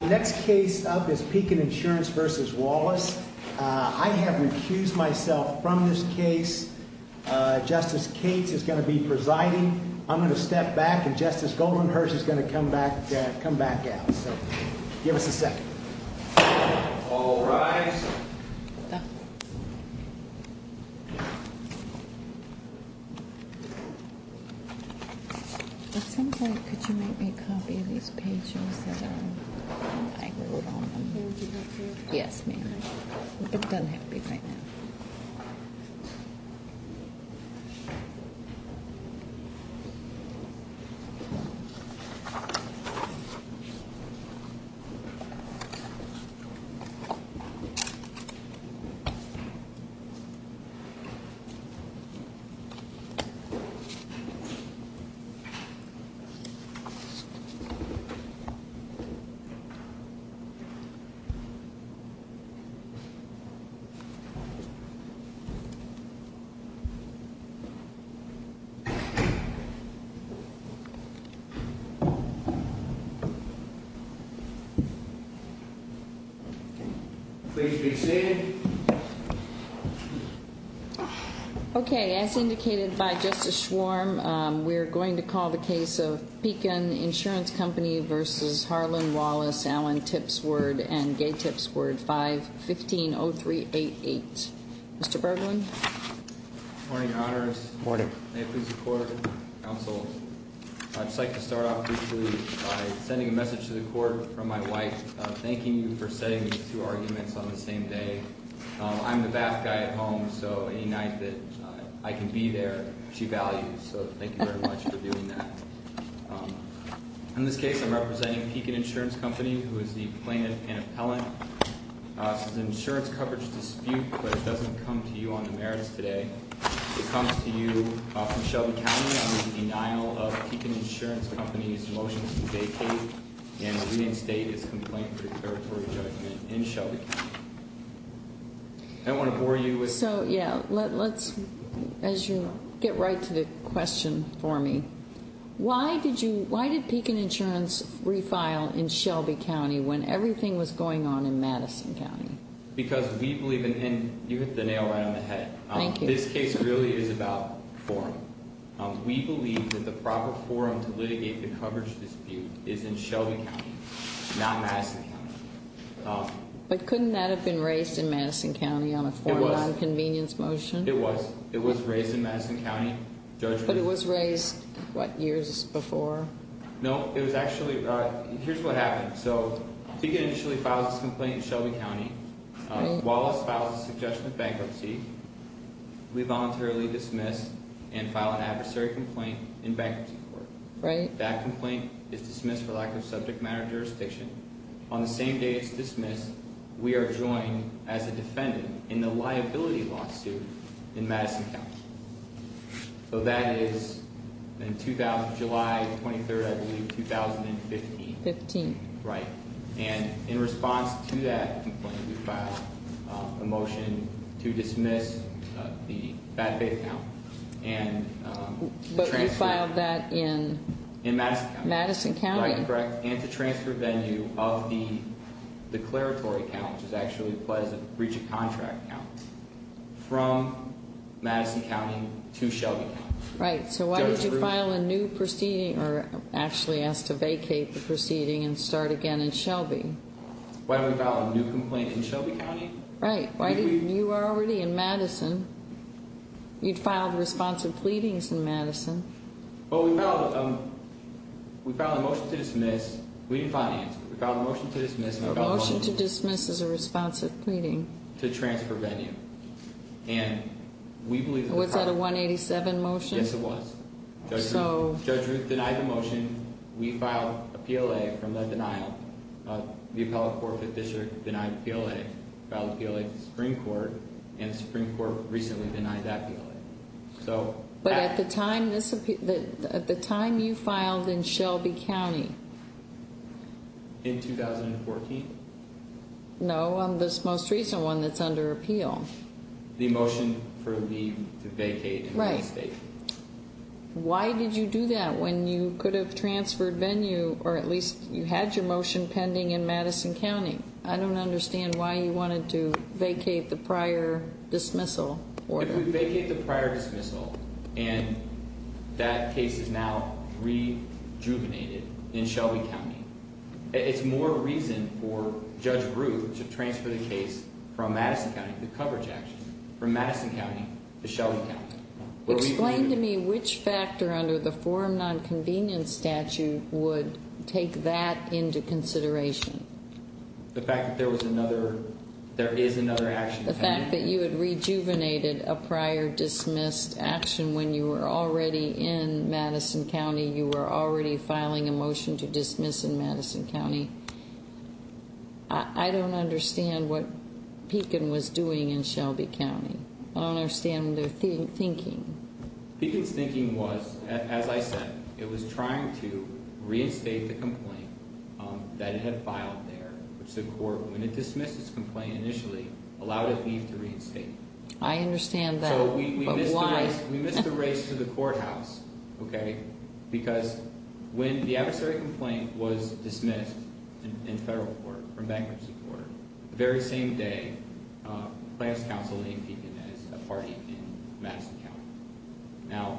Next case up is Pekin Insurance v. Wallace. I have recused myself from this case. Justice Cates is going to be presiding. I'm going to step back and Justice Goldenhurst is going to come back out. Give us a second. All rise. It seems like could you make me a copy of these pages that I wrote on them? Yes, ma'am. It doesn't have to be right now. Please be seated. Please be seated. Okay. As indicated by Justice Schwarm, we're going to call the case of Pekin Insurance Company v. Harlan Wallace, Allen Tipsword, and Gay Tipsword 5-15-0388. Mr. Berglund? Good morning, Your Honor. Good morning. May it please the Court and the Counsel, I'd just like to start off briefly by sending a message to the Court from my wife, thanking you for setting these two arguments on the same day. I'm the bath guy at home, so any night that I can be there, she values, so thank you very much for doing that. In this case, I'm representing Pekin Insurance Company, who is the plaintiff and appellant. This is an insurance coverage dispute, but it doesn't come to you on the merits today. It comes to you from Shelby County on the denial of Pekin Insurance Company's motion to vacate and reinstate its complaint for declaratory judgment in Shelby County. I don't want to bore you with- So, yeah, let's, as you get right to the question for me, why did you, why did Pekin Insurance refile in Shelby County when everything was going on in Madison County? Because we believe in, and you hit the nail right on the head. Thank you. This case really is about forum. We believe that the proper forum to litigate the coverage dispute is in Shelby County, not Madison County. But couldn't that have been raised in Madison County on a formal, non-convenience motion? It was. It was raised in Madison County. But it was raised, what, years before? No, it was actually, here's what happened. So, Pekin initially files this complaint in Shelby County. Wallace files a suggestion of bankruptcy. We voluntarily dismiss and file an adversary complaint in bankruptcy court. Right. That complaint is dismissed for lack of subject matter jurisdiction. On the same day it's dismissed, we are joined as a defendant in the liability lawsuit in Madison County. So that is July 23rd, I believe, 2015. Right. And in response to that complaint, we filed a motion to dismiss the bad faith account. But you filed that in? In Madison County. Madison County. Right, correct. And to transfer venue of the declaratory account, which is actually the pleasant breach of contract account, from Madison County to Shelby County. Right. So why did you file a new proceeding, or actually ask to vacate the proceeding and start again in Shelby? Why did we file a new complaint in Shelby County? Right. You were already in Madison. You'd filed responsive pleadings in Madison. Well, we filed a motion to dismiss. We didn't finance it. We filed a motion to dismiss. A motion to dismiss is a responsive pleading. To transfer venue. Was that a 187 motion? Yes, it was. Judge Ruth denied the motion. We filed a PLA from that denial. The Appellate Court of the District denied the PLA. Filed a PLA to the Supreme Court, and the Supreme Court recently denied that PLA. But at the time you filed in Shelby County? In 2014? No, on this most recent one that's under appeal. The motion for leave to vacate. Right. Why did you do that when you could have transferred venue, or at least you had your motion pending in Madison County? I don't understand why you wanted to vacate the prior dismissal order. If we vacate the prior dismissal, and that case is now rejuvenated in Shelby County, it's more reason for Judge Ruth to transfer the case from Madison County to coverage actions. From Madison County to Shelby County. Explain to me which factor under the forum non-convenience statute would take that into consideration. The fact that there was another, there is another action. The fact that you had rejuvenated a prior dismissed action when you were already in Madison County. You were already filing a motion to dismiss in Madison County. I don't understand what Pekin was doing in Shelby County. I don't understand their thinking. Pekin's thinking was, as I said, it was trying to reinstate the complaint that it had filed there. Which the court, when it dismissed its complaint initially, allowed a thief to reinstate it. I understand that, but why? We missed the race to the courthouse, okay? Because when the adversary complaint was dismissed in federal court, from bankruptcy court, the very same day, Plans Council named Pekin as a party in Madison County.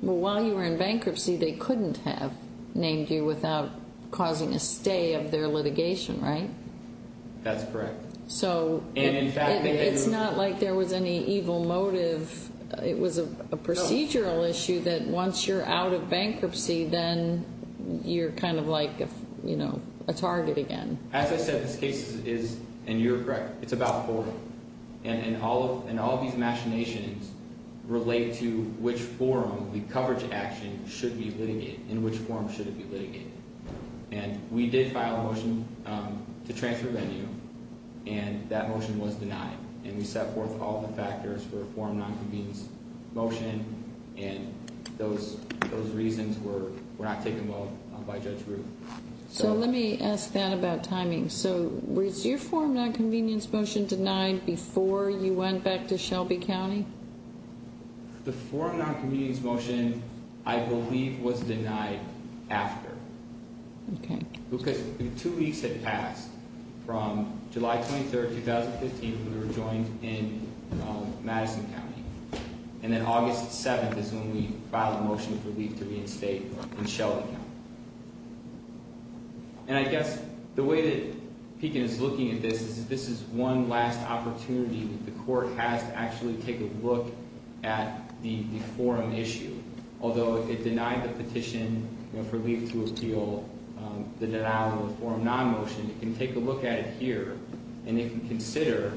While you were in bankruptcy, they couldn't have named you without causing a stay of their litigation, right? That's correct. So it's not like there was any evil motive. It was a procedural issue that once you're out of bankruptcy, then you're kind of like a target again. As I said, this case is, and you're correct, it's about forum. And all of these machinations relate to which forum the coverage action should be litigated. In which forum should it be litigated. And we did file a motion to transfer venue. And that motion was denied. And we set forth all the factors for a forum non-convenience motion. And those reasons were not taken well by Judge Ruth. So let me ask that about timing. So was your forum non-convenience motion denied before you went back to Shelby County? The forum non-convenience motion, I believe, was denied after. Okay. Because two weeks had passed from July 23rd, 2015, when we were joined in Madison County. And then August 7th is when we filed a motion for leave to reinstate in Shelby County. And I guess the way that Pekin is looking at this is this is one last opportunity that the court has to actually take a look at the forum issue. Although it denied the petition for leave to appeal, the denial of a forum non-motion. It can take a look at it here. And it can consider,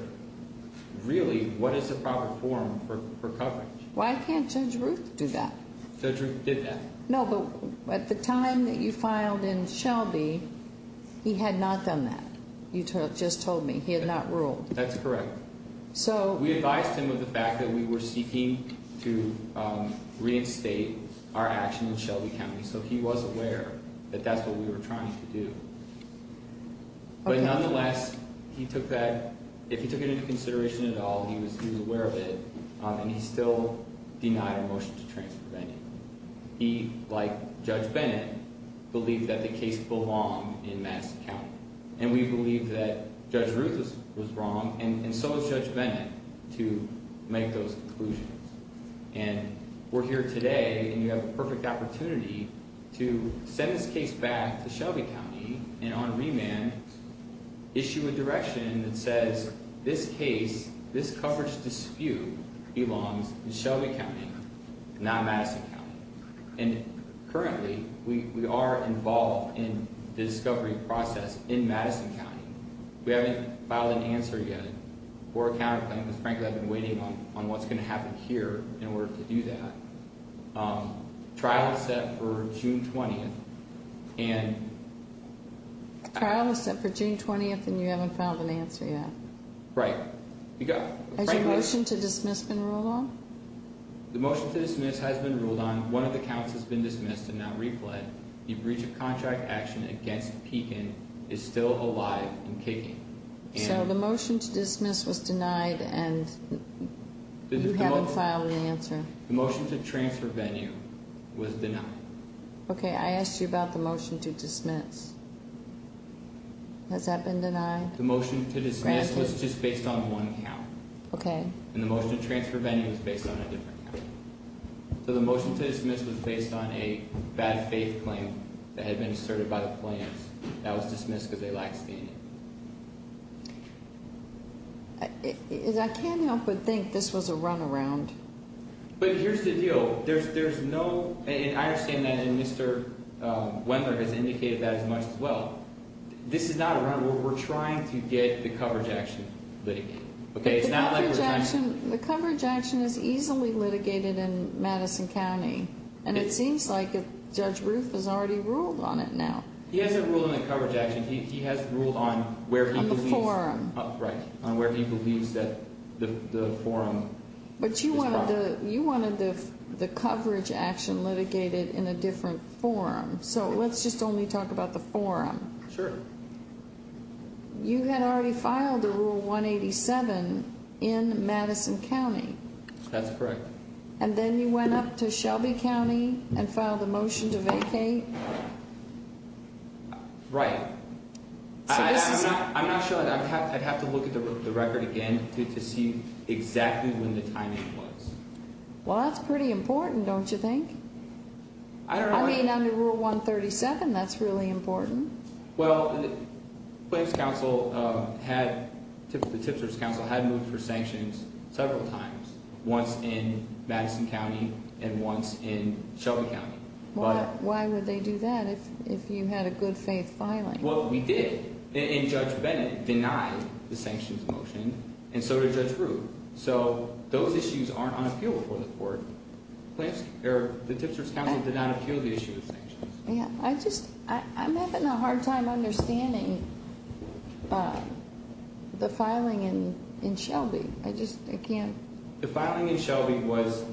really, what is the proper forum for coverage? Why can't Judge Ruth do that? Judge Ruth did that. No, but at the time that you filed in Shelby, he had not done that, you just told me. He had not ruled. That's correct. We advised him of the fact that we were seeking to reinstate our action in Shelby County. So he was aware that that's what we were trying to do. But nonetheless, he took that, if he took it into consideration at all, he was aware of it. And he still denied a motion to transprevent it. He, like Judge Bennett, believed that the case belonged in Madison County. And we believe that Judge Ruth was wrong, and so was Judge Bennett, to make those conclusions. And we're here today, and you have a perfect opportunity to send this case back to Shelby County, and on remand, issue a direction that says this case, this coverage dispute, belongs in Shelby County, not Madison County. And currently, we are involved in the discovery process in Madison County. We haven't filed an answer yet for a counterclaim, because frankly, I've been waiting on what's going to happen here in order to do that. Trial is set for June 20th, and... Trial is set for June 20th, and you haven't filed an answer yet? Right. Has your motion to dismiss been ruled on? The motion to dismiss has been ruled on. One of the counts has been dismissed and not replayed. So the motion to dismiss was denied, and you haven't filed an answer? The motion to transfer venue was denied. Okay, I asked you about the motion to dismiss. Has that been denied? The motion to dismiss was just based on one count. Okay. And the motion to transfer venue was based on a different count. So the motion to dismiss was based on a bad faith claim that had been asserted by the plaintiffs. That was dismissed because they lacked standing. I can't help but think this was a runaround. But here's the deal. There's no... And I understand that, and Mr. Wendler has indicated that as much as well. This is not a runaround. We're trying to get the coverage action litigated. The coverage action is easily litigated in Madison County, and it seems like Judge Roof has already ruled on it now. He hasn't ruled on the coverage action. He has ruled on where he believes... On the forum. Right, on where he believes that the forum is proper. But you wanted the coverage action litigated in a different forum. So let's just only talk about the forum. Sure. You had already filed a Rule 187 in Madison County. That's correct. And then you went up to Shelby County and filed a motion to vacate? Right. So this is... I'm not sure. I'd have to look at the record again to see exactly when the timing was. Well, that's pretty important, don't you think? I don't know... I mean, under Rule 137, that's really important. Well, the tipser's council had moved for sanctions several times, once in Madison County and once in Shelby County. Why would they do that if you had a good-faith filing? Well, we did. And Judge Bennett denied the sanctions motion, and so did Judge Roof. So those issues aren't on appeal before the court. The tipser's council did not appeal the issue of sanctions. I'm having a hard time understanding the filing in Shelby. I just can't... The filing in Shelby was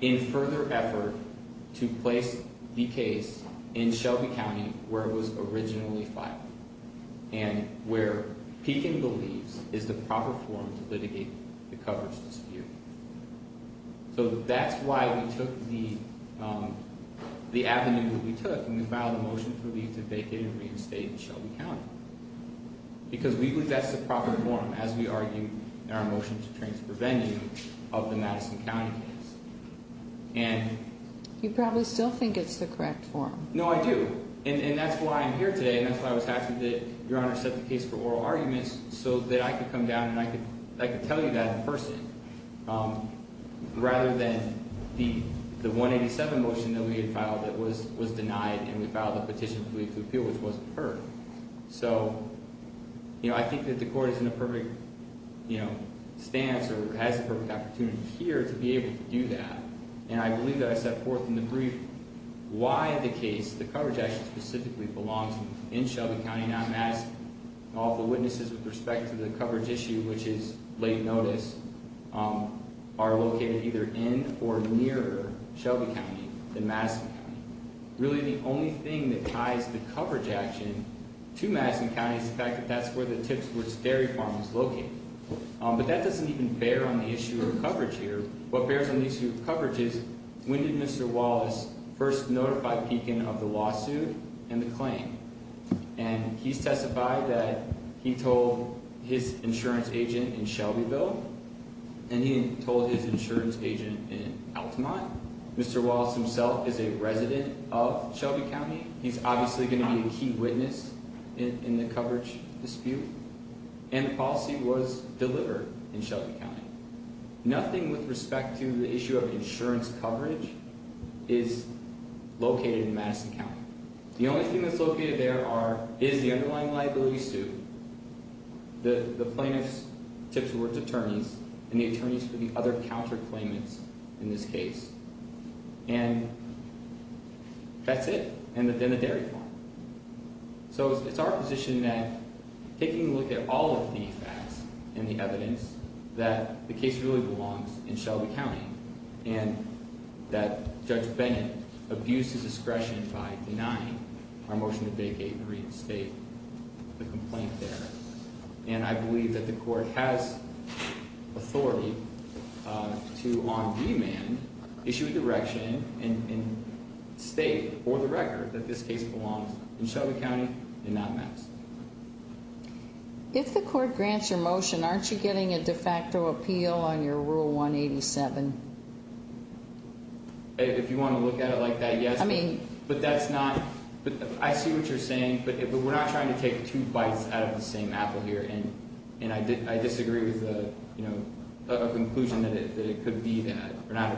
in further effort to place the case in Shelby County where it was originally filed and where Pekin believes is the proper forum to litigate the coverage dispute. So that's why we took the avenue that we took, and we filed a motion for leave to vacate and reinstate in Shelby County. Because we believe that's the proper forum, as we argued in our motion to transfer vengeance of the Madison County case. And... You probably still think it's the correct forum. No, I do. And that's why I'm here today, and that's why I was asking that Your Honor set the case for oral arguments so that I could come down and I could tell you that in person, rather than the 187 motion that we had filed that was denied, and we filed a petition for leave to appeal, which wasn't heard. So, you know, I think that the court is in a perfect stance or has the perfect opportunity here to be able to do that. And I believe that I set forth in the brief why the case, the coverage action specifically, belongs in Shelby County. Now, I'm asking all the witnesses with respect to the coverage issue, which is late notice, are located either in or near Shelby County than Madison County. Really, the only thing that ties the coverage action to Madison County is the fact that that's where the tipsworth's dairy farm is located. But that doesn't even bear on the issue of coverage here. What bears on the issue of coverage is, when did Mr. Wallace first notify Pekin of the lawsuit and the claim? And he's testified that he told his insurance agent in Shelbyville, and he told his insurance agent in Altamont. Mr. Wallace himself is a resident of Shelby County. He's obviously going to be a key witness in the coverage dispute. And the policy was delivered in Shelby County. Nothing with respect to the issue of insurance coverage is located in Madison County. The only thing that's located there is the underlying liability suit, the plaintiff's tipsworth's attorneys, and the attorneys for the other counterclaimants in this case. And that's it, and then the dairy farm. So it's our position that, taking a look at all of the facts and the evidence, that the case really belongs in Shelby County, and that Judge Bennett abused his discretion by denying our motion to vacate and restate the complaint there. And I believe that the court has authority to, on demand, issue a direction and state for the record that this case belongs in Shelby County and not Madison. If the court grants your motion, aren't you getting a de facto appeal on your Rule 187? If you want to look at it like that, yes. But that's not – I see what you're saying, but we're not trying to take two bites out of the same apple here. And I disagree with a conclusion that it could be that. Or not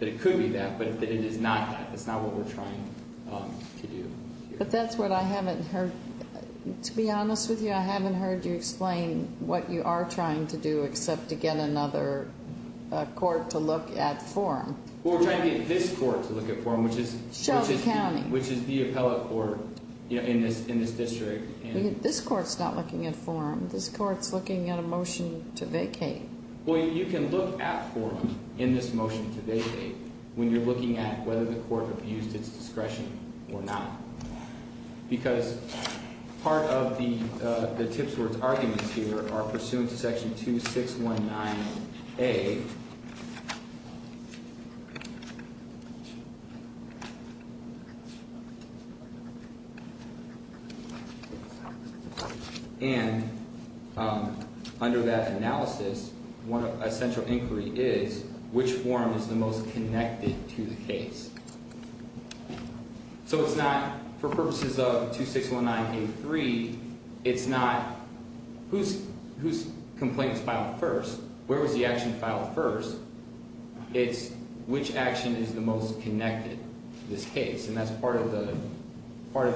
that it could be that, but that it is not that. That's not what we're trying to do here. But that's what I haven't heard. To be honest with you, I haven't heard you explain what you are trying to do except to get another court to look at form. Well, we're trying to get this court to look at form, which is the appellate court in this district. This court's not looking at form. This court's looking at a motion to vacate. Well, you can look at form in this motion to vacate when you're looking at whether the court abused its discretion or not. Because part of the tipsworth's arguments here are pursuant to Section 2619A. And under that analysis, a central inquiry is which form is the most connected to the case. So it's not, for purposes of 2619A3, it's not whose complaint was filed first, where was the action filed first. It's which action is the most connected to this case. And that's part of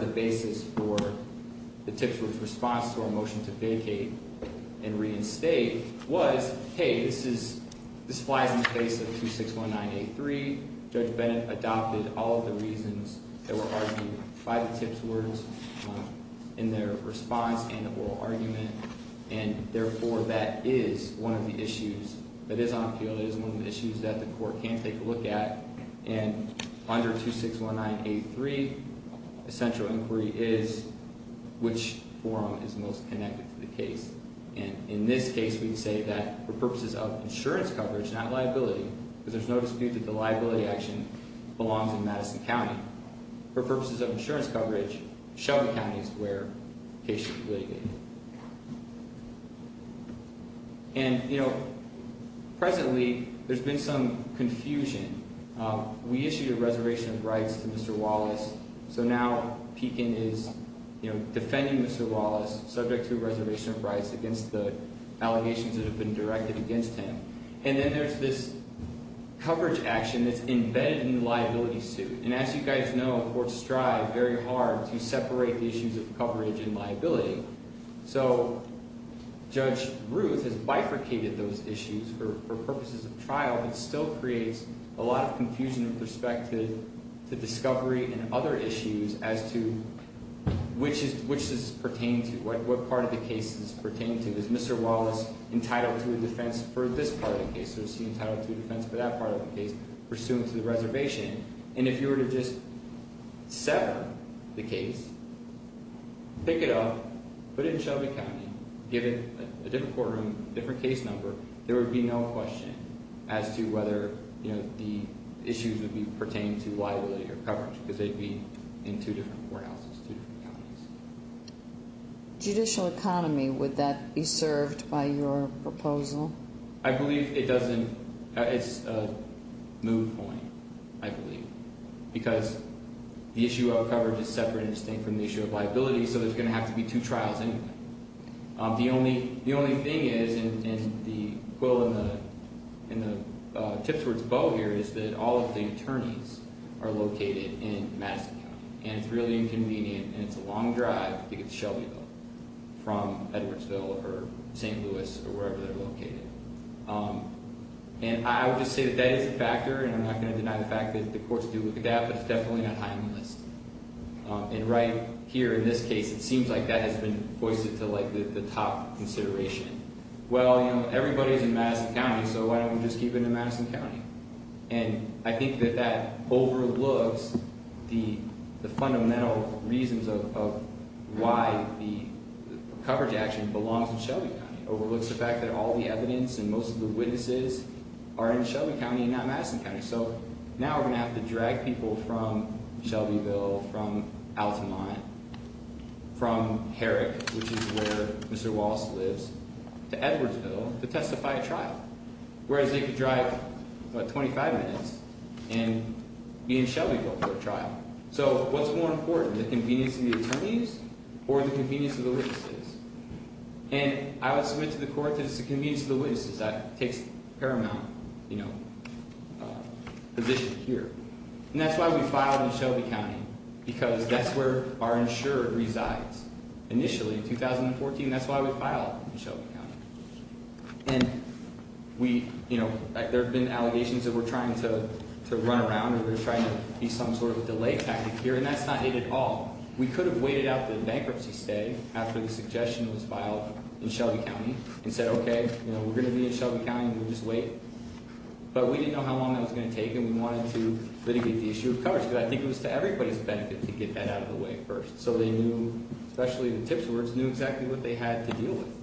the basis for the tipsworth's response to our motion to vacate and reinstate was, hey, this flies in the face of 2619A3. Judge Bennett adopted all of the reasons that were argued by the tipsworths in their response and the oral argument. And therefore, that is one of the issues that is on appeal. That is one of the issues that the court can take a look at. And under 2619A3, a central inquiry is which form is most connected to the case. And in this case, we'd say that for purposes of insurance coverage, not liability, because there's no dispute that the liability action belongs in Madison County. For purposes of insurance coverage, Shelby County is where the case should be litigated. And, you know, presently, there's been some confusion. We issued a reservation of rights to Mr. Wallace. So now, Pekin is, you know, defending Mr. Wallace subject to a reservation of rights against the allegations that have been directed against him. And then there's this coverage action that's embedded in the liability suit. And as you guys know, courts strive very hard to separate the issues of coverage and liability. So Judge Ruth has bifurcated those issues for purposes of trial. It still creates a lot of confusion and perspective to discovery and other issues as to which this pertains to. What part of the case this pertains to? Is Mr. Wallace entitled to a defense for this part of the case? Is he entitled to a defense for that part of the case pursuant to the reservation? And if you were to just sever the case, pick it up, put it in Shelby County, give it a different courtroom, different case number, there would be no question as to whether, you know, the issues would pertain to liability or coverage, because they'd be in two different courthouses, two different counties. Judicial economy, would that be served by your proposal? I believe it doesn't. It's a moot point, I believe, because the issue of coverage is separate and distinct from the issue of liability, so there's going to have to be two trials anyway. The only thing is, and the quill in the tip towards bow here is that all of the attorneys are located in Madison County, and it's really inconvenient, and it's a long drive to get to Shelbyville from Edwardsville or St. Louis or wherever they're located. And I would just say that that is a factor, and I'm not going to deny the fact that the courts do look at that, but it's definitely not high on the list. And right here in this case, it seems like that has been foisted to, like, the top consideration. Well, you know, everybody's in Madison County, so why don't we just keep it in Madison County? And I think that that overlooks the fundamental reasons of why the coverage action belongs in Shelby County. It overlooks the fact that all the evidence and most of the witnesses are in Shelby County and not Madison County. So now we're going to have to drag people from Shelbyville, from Altamont, from Herrick, which is where Mr. Wallace lives, to Edwardsville to testify at trial, whereas they could drive, what, 25 minutes and be in Shelbyville for a trial. So what's more important, the convenience of the attorneys or the convenience of the witnesses? And I would submit to the court that it's the convenience of the witnesses that takes paramount, you know, position here. And that's why we filed in Shelby County, because that's where our insurer resides. Initially, in 2014, that's why we filed in Shelby County. And we, you know, there have been allegations that we're trying to run around, that we're trying to be some sort of a delay tactic here, and that's not it at all. We could have waited out the bankruptcy stay after the suggestion was filed in Shelby County, and said, okay, you know, we're going to be in Shelby County, and we'll just wait. But we didn't know how long that was going to take, and we wanted to litigate the issue of coverage, because I think it was to everybody's benefit to get that out of the way first. So they knew, especially the tip stewards, knew exactly what they had to deal with.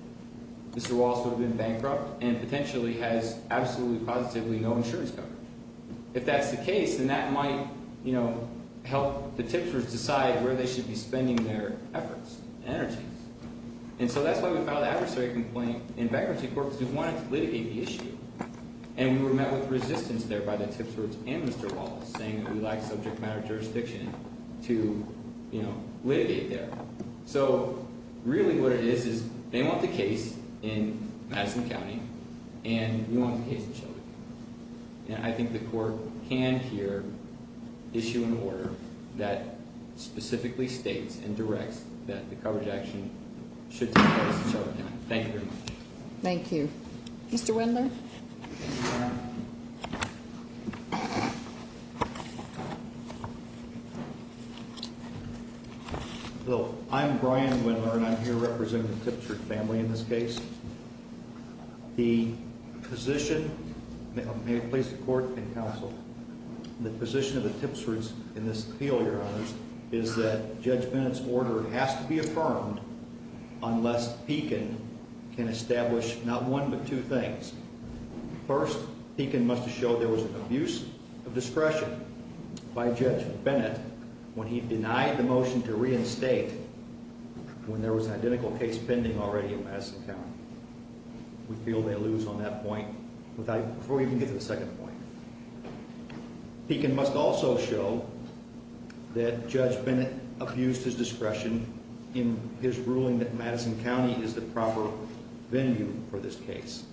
Mr. Wallace would have been bankrupt and potentially has absolutely positively no insurance coverage. If that's the case, then that might, you know, help the tip stewards decide where they should be spending their efforts and energies. And so that's why we filed an adversary complaint in bankruptcy court, because we wanted to litigate the issue. And we were met with resistance there by the tip stewards and Mr. Wallace, saying that we lack subject matter jurisdiction to, you know, litigate there. So really what it is is they want the case in Madison County, and we want the case in Shelby County. And I think the court can here issue an order that specifically states and directs that the coverage action should take place in Shelby County. Thank you very much. Thank you. Mr. Wendler? Well, I'm Brian Wendler, and I'm here representing the Tipster family in this case. The position, may it please the court and counsel, the position of the Tipsters in this appeal, Your Honors, is that Judge Bennett's order has to be affirmed unless Pekin can establish not one but two things. First, Pekin must have showed there was an abuse of discretion by Judge Bennett when he denied the motion to reinstate when there was an identical case pending already in Madison County. We feel they lose on that point before we even get to the second point. Pekin must also show that Judge Bennett abused his discretion in his ruling that Madison County is the proper venue for this case.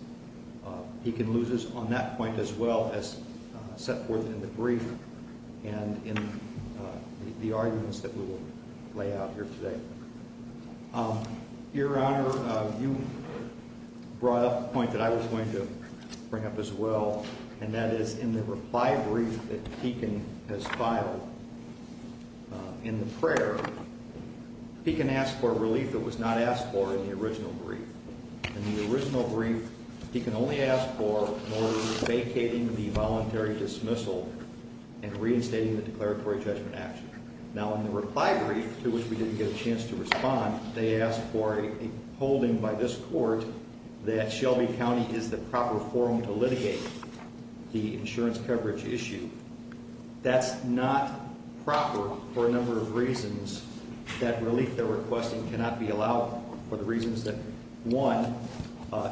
Pekin loses on that point as well as set forth in the brief and in the arguments that we will lay out here today. Your Honor, you brought up a point that I was going to bring up as well, and that is in the reply brief that Pekin has filed in the prayer, Pekin asked for a relief that was not asked for in the original brief. In the original brief, Pekin only asked for vacating the voluntary dismissal and reinstating the declaratory judgment action. Now in the reply brief, to which we didn't get a chance to respond, they asked for a holding by this court that Shelby County is the proper forum to litigate the insurance coverage issue. That's not proper for a number of reasons. That relief they're requesting cannot be allowed for the reasons that, one,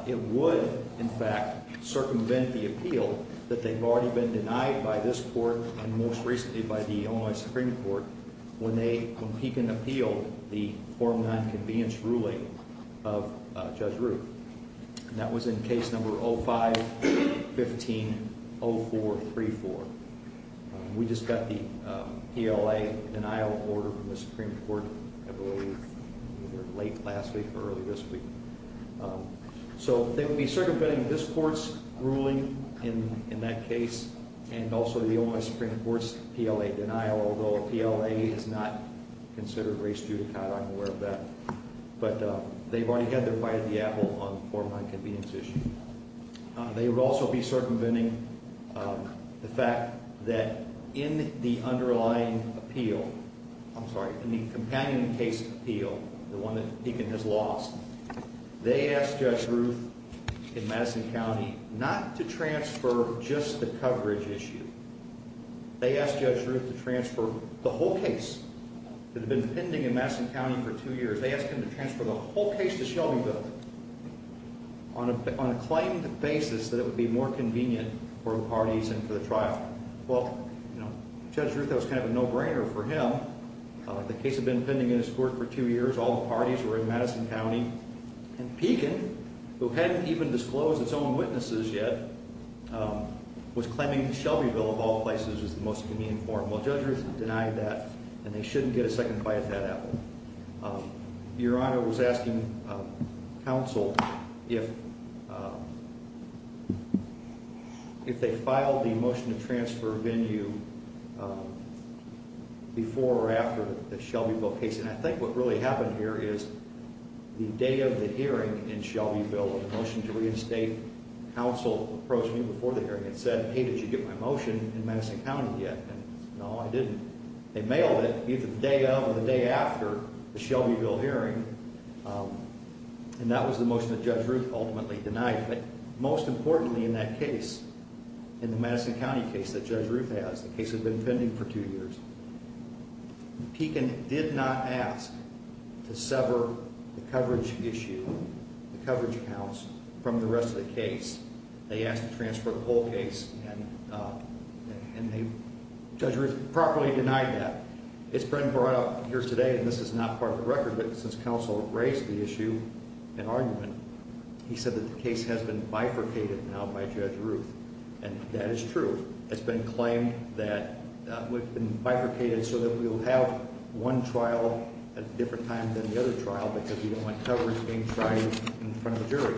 it would, in fact, circumvent the appeal that they've already been denied by this court and most recently by the Illinois Supreme Court when they, when Pekin appealed the form non-convenience ruling of Judge Ruth. That was in case number 05-15-0434. We just got the PLA denial order from the Supreme Court, I believe, late last week or early this week. So they will be circumventing this court's ruling in that case, and also the Illinois Supreme Court's PLA denial, although PLA is not considered race judicata, I'm aware of that. But they've already had their bite of the apple on the form non-convenience issue. They would also be circumventing the fact that in the underlying appeal, I'm sorry, in the companion case appeal, the one that Pekin has lost, they asked Judge Ruth in Madison County not to transfer just the coverage issue. They asked Judge Ruth to transfer the whole case that had been pending in Madison County for two years. They asked him to transfer the whole case to Shelbyville on a claimed basis that it would be more convenient for the parties and for the trial. Well, Judge Ruth, that was kind of a no-brainer for him. The case had been pending in his court for two years. All the parties were in Madison County, and Pekin, who hadn't even disclosed its own witnesses yet, was claiming that Shelbyville, of all places, was the most convenient form. Well, Judge Ruth denied that, and they shouldn't get a second bite of that apple. Your Honor was asking counsel if they filed the motion to transfer venue before or after the Shelbyville case, and I think what really happened here is the day of the hearing in Shelbyville, the motion to reinstate, counsel approached me before the hearing and said, Hey, did you get my motion in Madison County yet? And no, I didn't. They mailed it either the day of or the day after the Shelbyville hearing, and that was the motion that Judge Ruth ultimately denied. But most importantly in that case, in the Madison County case that Judge Ruth has, the case had been pending for two years, Pekin did not ask to sever the coverage issue, the coverage accounts, from the rest of the case. They asked to transfer the whole case, and Judge Ruth properly denied that. It's been brought up here today, and this is not part of the record, but since counsel raised the issue and argument, he said that the case has been bifurcated now by Judge Ruth, and that is true. It's been claimed that we've been bifurcated so that we'll have one trial at a different time than the other trial because we don't want coverage being tried in front of a jury.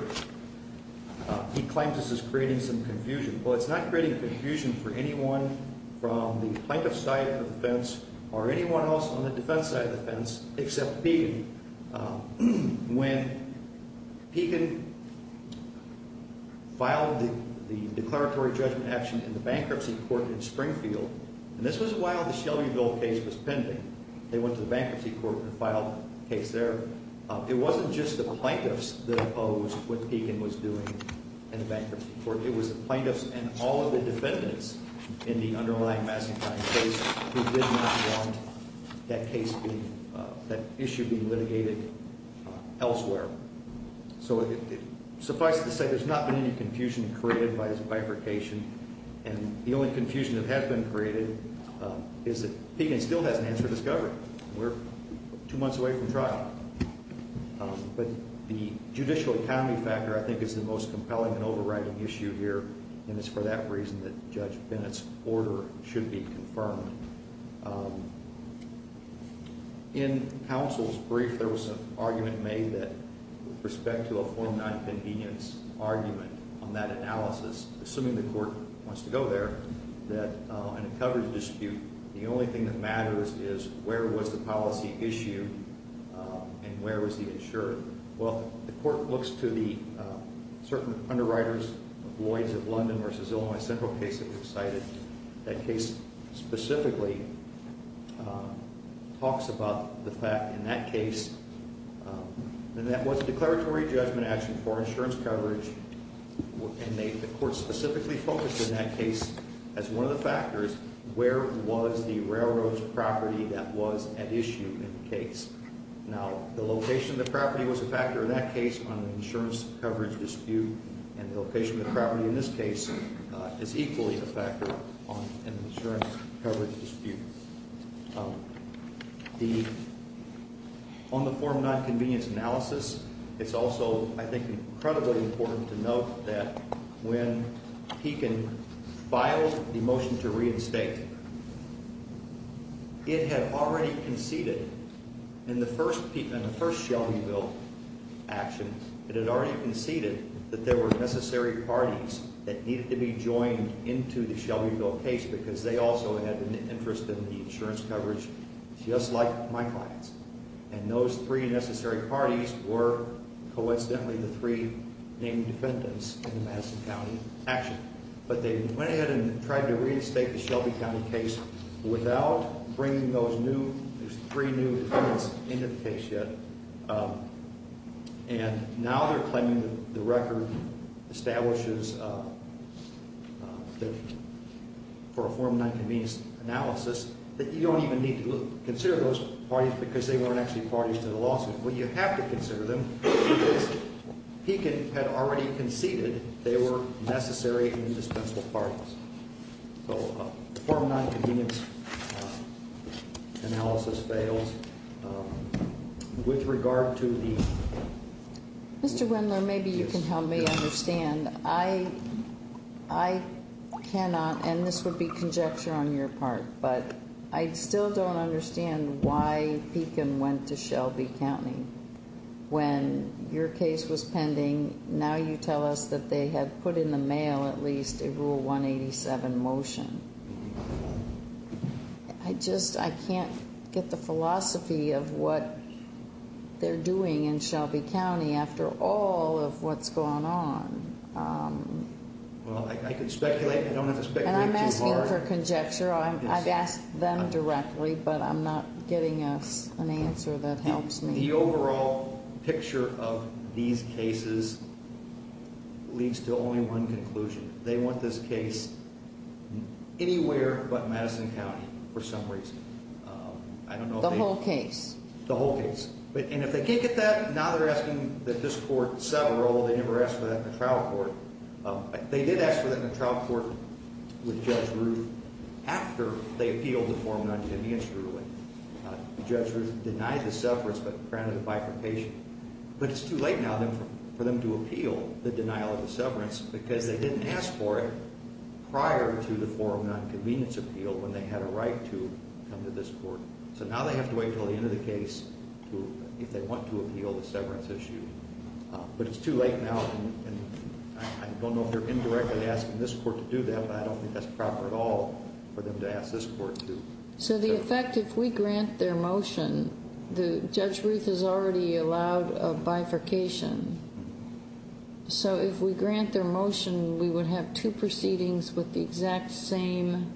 He claims this is creating some confusion. Well, it's not creating confusion for anyone from the plaintiff's side of the fence or anyone else on the defense side of the fence except Pekin. When Pekin filed the declaratory judgment action in the bankruptcy court in Springfield, and this was while the Shelbyville case was pending. They went to the bankruptcy court and filed the case there. It wasn't just the plaintiffs that opposed what Pekin was doing in the bankruptcy court. It was the plaintiffs and all of the defendants in the underlying Massentine case who did not want that issue being litigated elsewhere. So suffice it to say, there's not been any confusion created by this bifurcation, and the only confusion that has been created is that Pekin still hasn't answered his government. We're two months away from trial, but the judicial economy factor, I think, is the most compelling and overriding issue here, and it's for that reason that Judge Bennett's order should be confirmed. In counsel's brief, there was an argument made that, with respect to a 49th convenience argument on that analysis, assuming the court wants to go there, that in a coverage dispute, the only thing that matters is where was the policy issue and where was the insurer. Well, the court looks to the certain underwriters, Lloyds of London v. Illinois Central case that we've cited. That case specifically talks about the fact in that case, and that was a declaratory judgment action for insurance coverage, and the court specifically focused in that case as one of the factors where was the railroad's property that was at issue in the case. Now, the location of the property was a factor in that case on an insurance coverage dispute, and the location of the property in this case is equally a factor on an insurance coverage dispute. On the 49th convenience analysis, it's also, I think, incredibly important to note that when Pekin filed the motion to reinstate, it had already conceded in the first Shelbyville action, it had already conceded that there were necessary parties that needed to be joined into the Shelbyville case because they also had an interest in the insurance coverage, just like my clients, and those three necessary parties were, coincidentally, the three named defendants in the Madison County action. But they went ahead and tried to reinstate the Shelby County case without bringing those three new defendants into the case yet, and now they're claiming that the record establishes for a form of nonconvenience analysis that you don't even need to consider those parties because they weren't actually parties to the lawsuit. Well, you have to consider them because Pekin had already conceded they were necessary and indispensable parties. So a form of nonconvenience analysis fails. With regard to the... Mr. Wendler, maybe you can help me understand. I cannot, and this would be conjecture on your part, but I still don't understand why Pekin went to Shelby County. When your case was pending, now you tell us that they had put in the mail at least a Rule 187 motion. I just can't get the philosophy of what they're doing in Shelby County after all of what's going on. Well, I can speculate. I don't have to speculate too hard. And I'm asking for conjecture. I've asked them directly, but I'm not getting an answer that helps me. The overall picture of these cases leads to only one conclusion. They want this case anywhere but Madison County for some reason. The whole case? The whole case. And if they can't get that, now they're asking that this court sever all. They never asked for that in the trial court. They did ask for that in the trial court with Judge Ruth after they appealed the form of nonconvenience ruling. Judge Ruth denied the severance but granted a bifurcation. But it's too late now for them to appeal the denial of the severance because they didn't ask for it prior to the form of nonconvenience appeal when they had a right to come to this court. So now they have to wait until the end of the case if they want to appeal the severance issue. But it's too late now, and I don't know if they're indirectly asking this court to do that, but I don't think that's proper at all for them to ask this court to. So the effect, if we grant their motion, Judge Ruth has already allowed a bifurcation. So if we grant their motion, we would have two proceedings with the exact same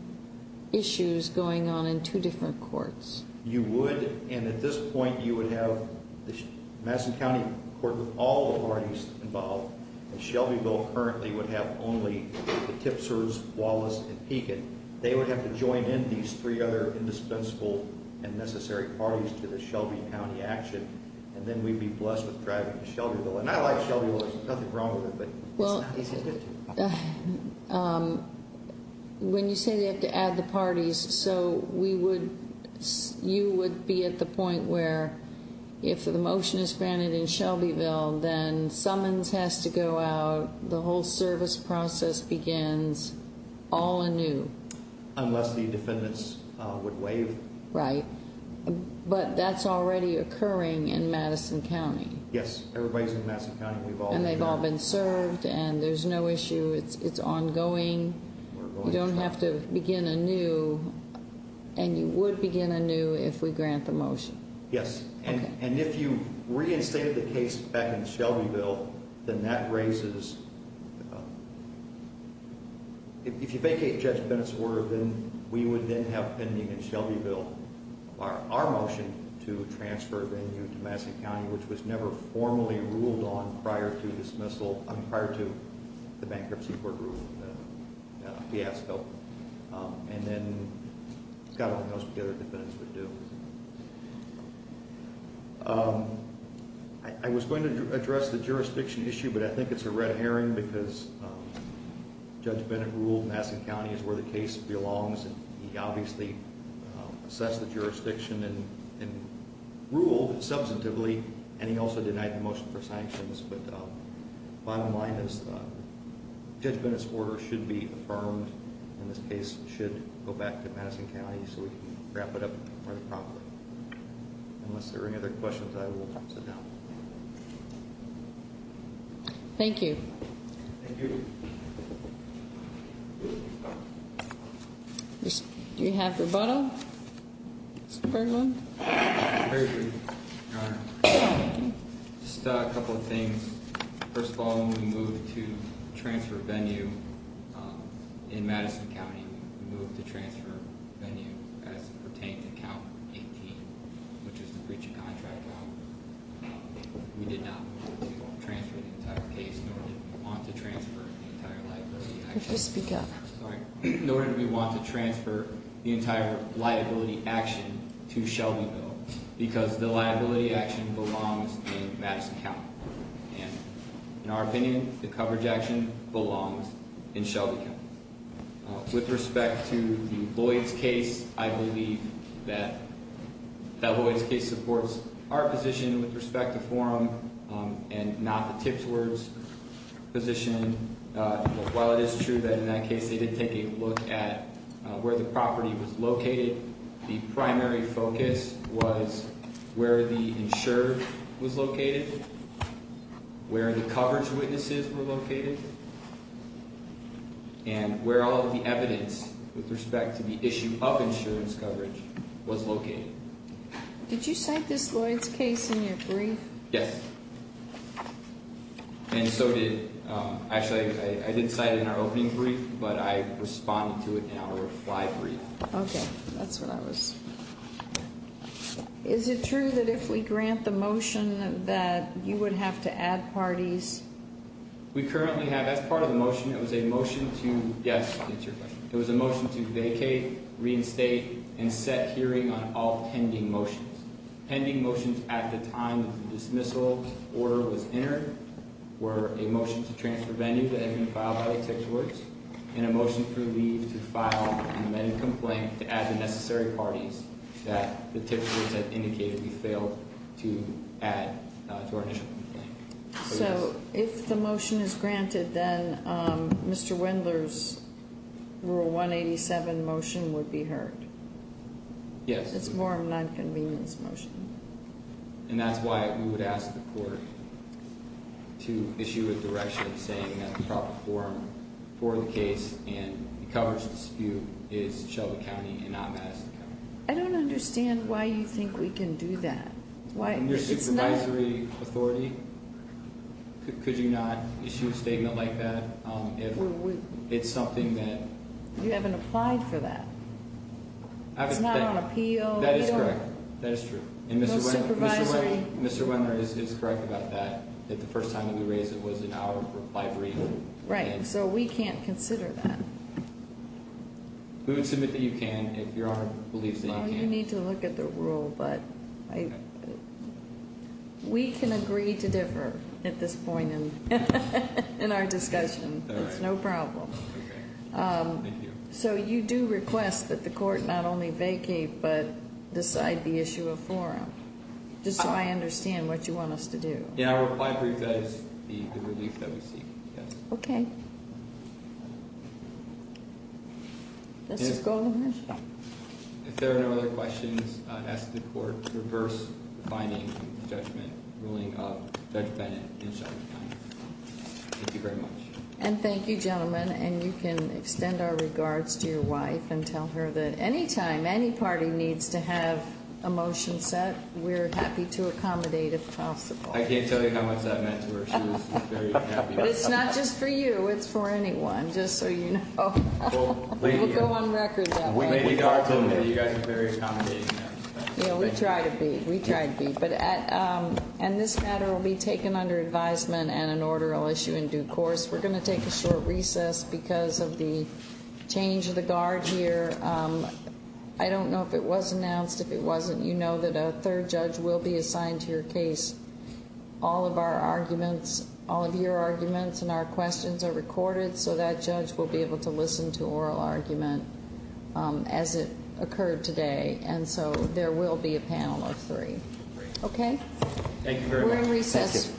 issues going on in two different courts. You would, and at this point you would have the Madison County Court with all the parties involved, and Shelbyville currently would have only the Tipsers, Wallace, and Pekin. They would have to join in these three other indispensable and necessary parties to the Shelby County action, and then we'd be blessed with driving to Shelbyville. And I like Shelbyville, there's nothing wrong with it, but it's not easy to get to. When you say they have to add the parties, so you would be at the point where if the motion is granted in Shelbyville, then summons has to go out, the whole service process begins all anew. Unless the defendants would waive. Right. But that's already occurring in Madison County. Yes, everybody's in Madison County. And they've all been served, and there's no issue, it's ongoing, you don't have to begin anew, and you would begin anew if we grant the motion. Yes, and if you reinstated the case back in Shelbyville, then that raises, if you vacate Judge Bennett's order, then we would then have pending in Shelbyville our motion to transfer venue to Madison County, which was never formally ruled on prior to the bankruptcy court ruling in the fiasco. And then, God only knows what the other defendants would do. I was going to address the jurisdiction issue, but I think it's a red herring because Judge Bennett ruled Madison County is where the case belongs, and he obviously assessed the jurisdiction and ruled substantively, and he also denied the motion for sanctions. But bottom line is Judge Bennett's order should be affirmed, and this case should go back to Madison County so we can wrap it up quite promptly. Unless there are any other questions, I will sit down. Thank you. Thank you. Do we have rebuttal, Mr. Bergman? I agree, Your Honor. Just a couple of things. First of all, when we moved to transfer venue in Madison County, we moved to transfer venue as it pertained to count 18, which is the breach of contract. We did not move to transfer the entire case, nor did we want to transfer the entire library. Could you speak up? Sorry. Nor did we want to transfer the entire liability action to Shelbyville because the liability action belongs in Madison County, and in our opinion, the coverage action belongs in Shelby County. With respect to the Boyd's case, I believe that that Boyd's case supports our position with respect to forum and not the tips words position. While it is true that in that case they did take a look at where the property was located, the primary focus was where the insurer was located, where the coverage witnesses were located, and where all of the evidence with respect to the issue of insurance coverage was located. Did you cite this Boyd's case in your brief? Yes, and so did, actually, I did cite it in our opening brief, but I responded to it in our reply brief. Okay, that's what I was. Is it true that if we grant the motion that you would have to add parties? We currently have, as part of the motion, it was a motion to, yes, that's your question. It was a motion to vacate, reinstate, and set hearing on all pending motions. Pending motions at the time that the dismissal order was entered were a motion to transfer venue that had been filed by tips words, and a motion to leave to file an amended complaint to add the necessary parties that the tips words had indicated we failed to add to our initial complaint. So if the motion is granted, then Mr. Wendler's Rule 187 motion would be heard? Yes. It's a forum nonconvenience motion. And that's why we would ask the court to issue a direction saying that the proper forum for the case and the coverage dispute is Shelby County and not Madison County. I don't understand why you think we can do that. Your supervisory authority, could you not issue a statement like that if it's something that- You haven't applied for that. It's not on appeal. That is correct. That is true. And Mr. Wendler is correct about that, that the first time we raised it was in our library. Right. So we can't consider that. We would submit that you can if Your Honor believes that you can. Well, you need to look at the rule, but we can agree to differ at this point in our discussion. It's no problem. Okay. Thank you. So you do request that the court not only vacate, but decide the issue of forum, just so I understand what you want us to do. Yeah, I'll apply for you guys the relief that we seek. Okay. This is golden ratio. If there are no other questions, I ask the court to reverse the finding of the judgment ruling of Judge Bennett in charge of finance. Thank you very much. And thank you, gentlemen. And you can extend our regards to your wife and tell her that any time any party needs to have a motion set, we're happy to accommodate if possible. I can't tell you how much that meant to her. She was very happy. But it's not just for you. It's for anyone, just so you know. We'll go on record that way. You guys are very accommodating. Yeah, we try to be. We try to be. And this matter will be taken under advisement and an order will issue in due course. We're going to take a short recess because of the change of the guard here. I don't know if it was announced. If it wasn't, you know that a third judge will be assigned to your case. All of our arguments, all of your arguments and our questions are recorded so that judge will be able to listen to oral argument as it occurred today. And so there will be a panel of three. Okay? Thank you very much. We're in recess.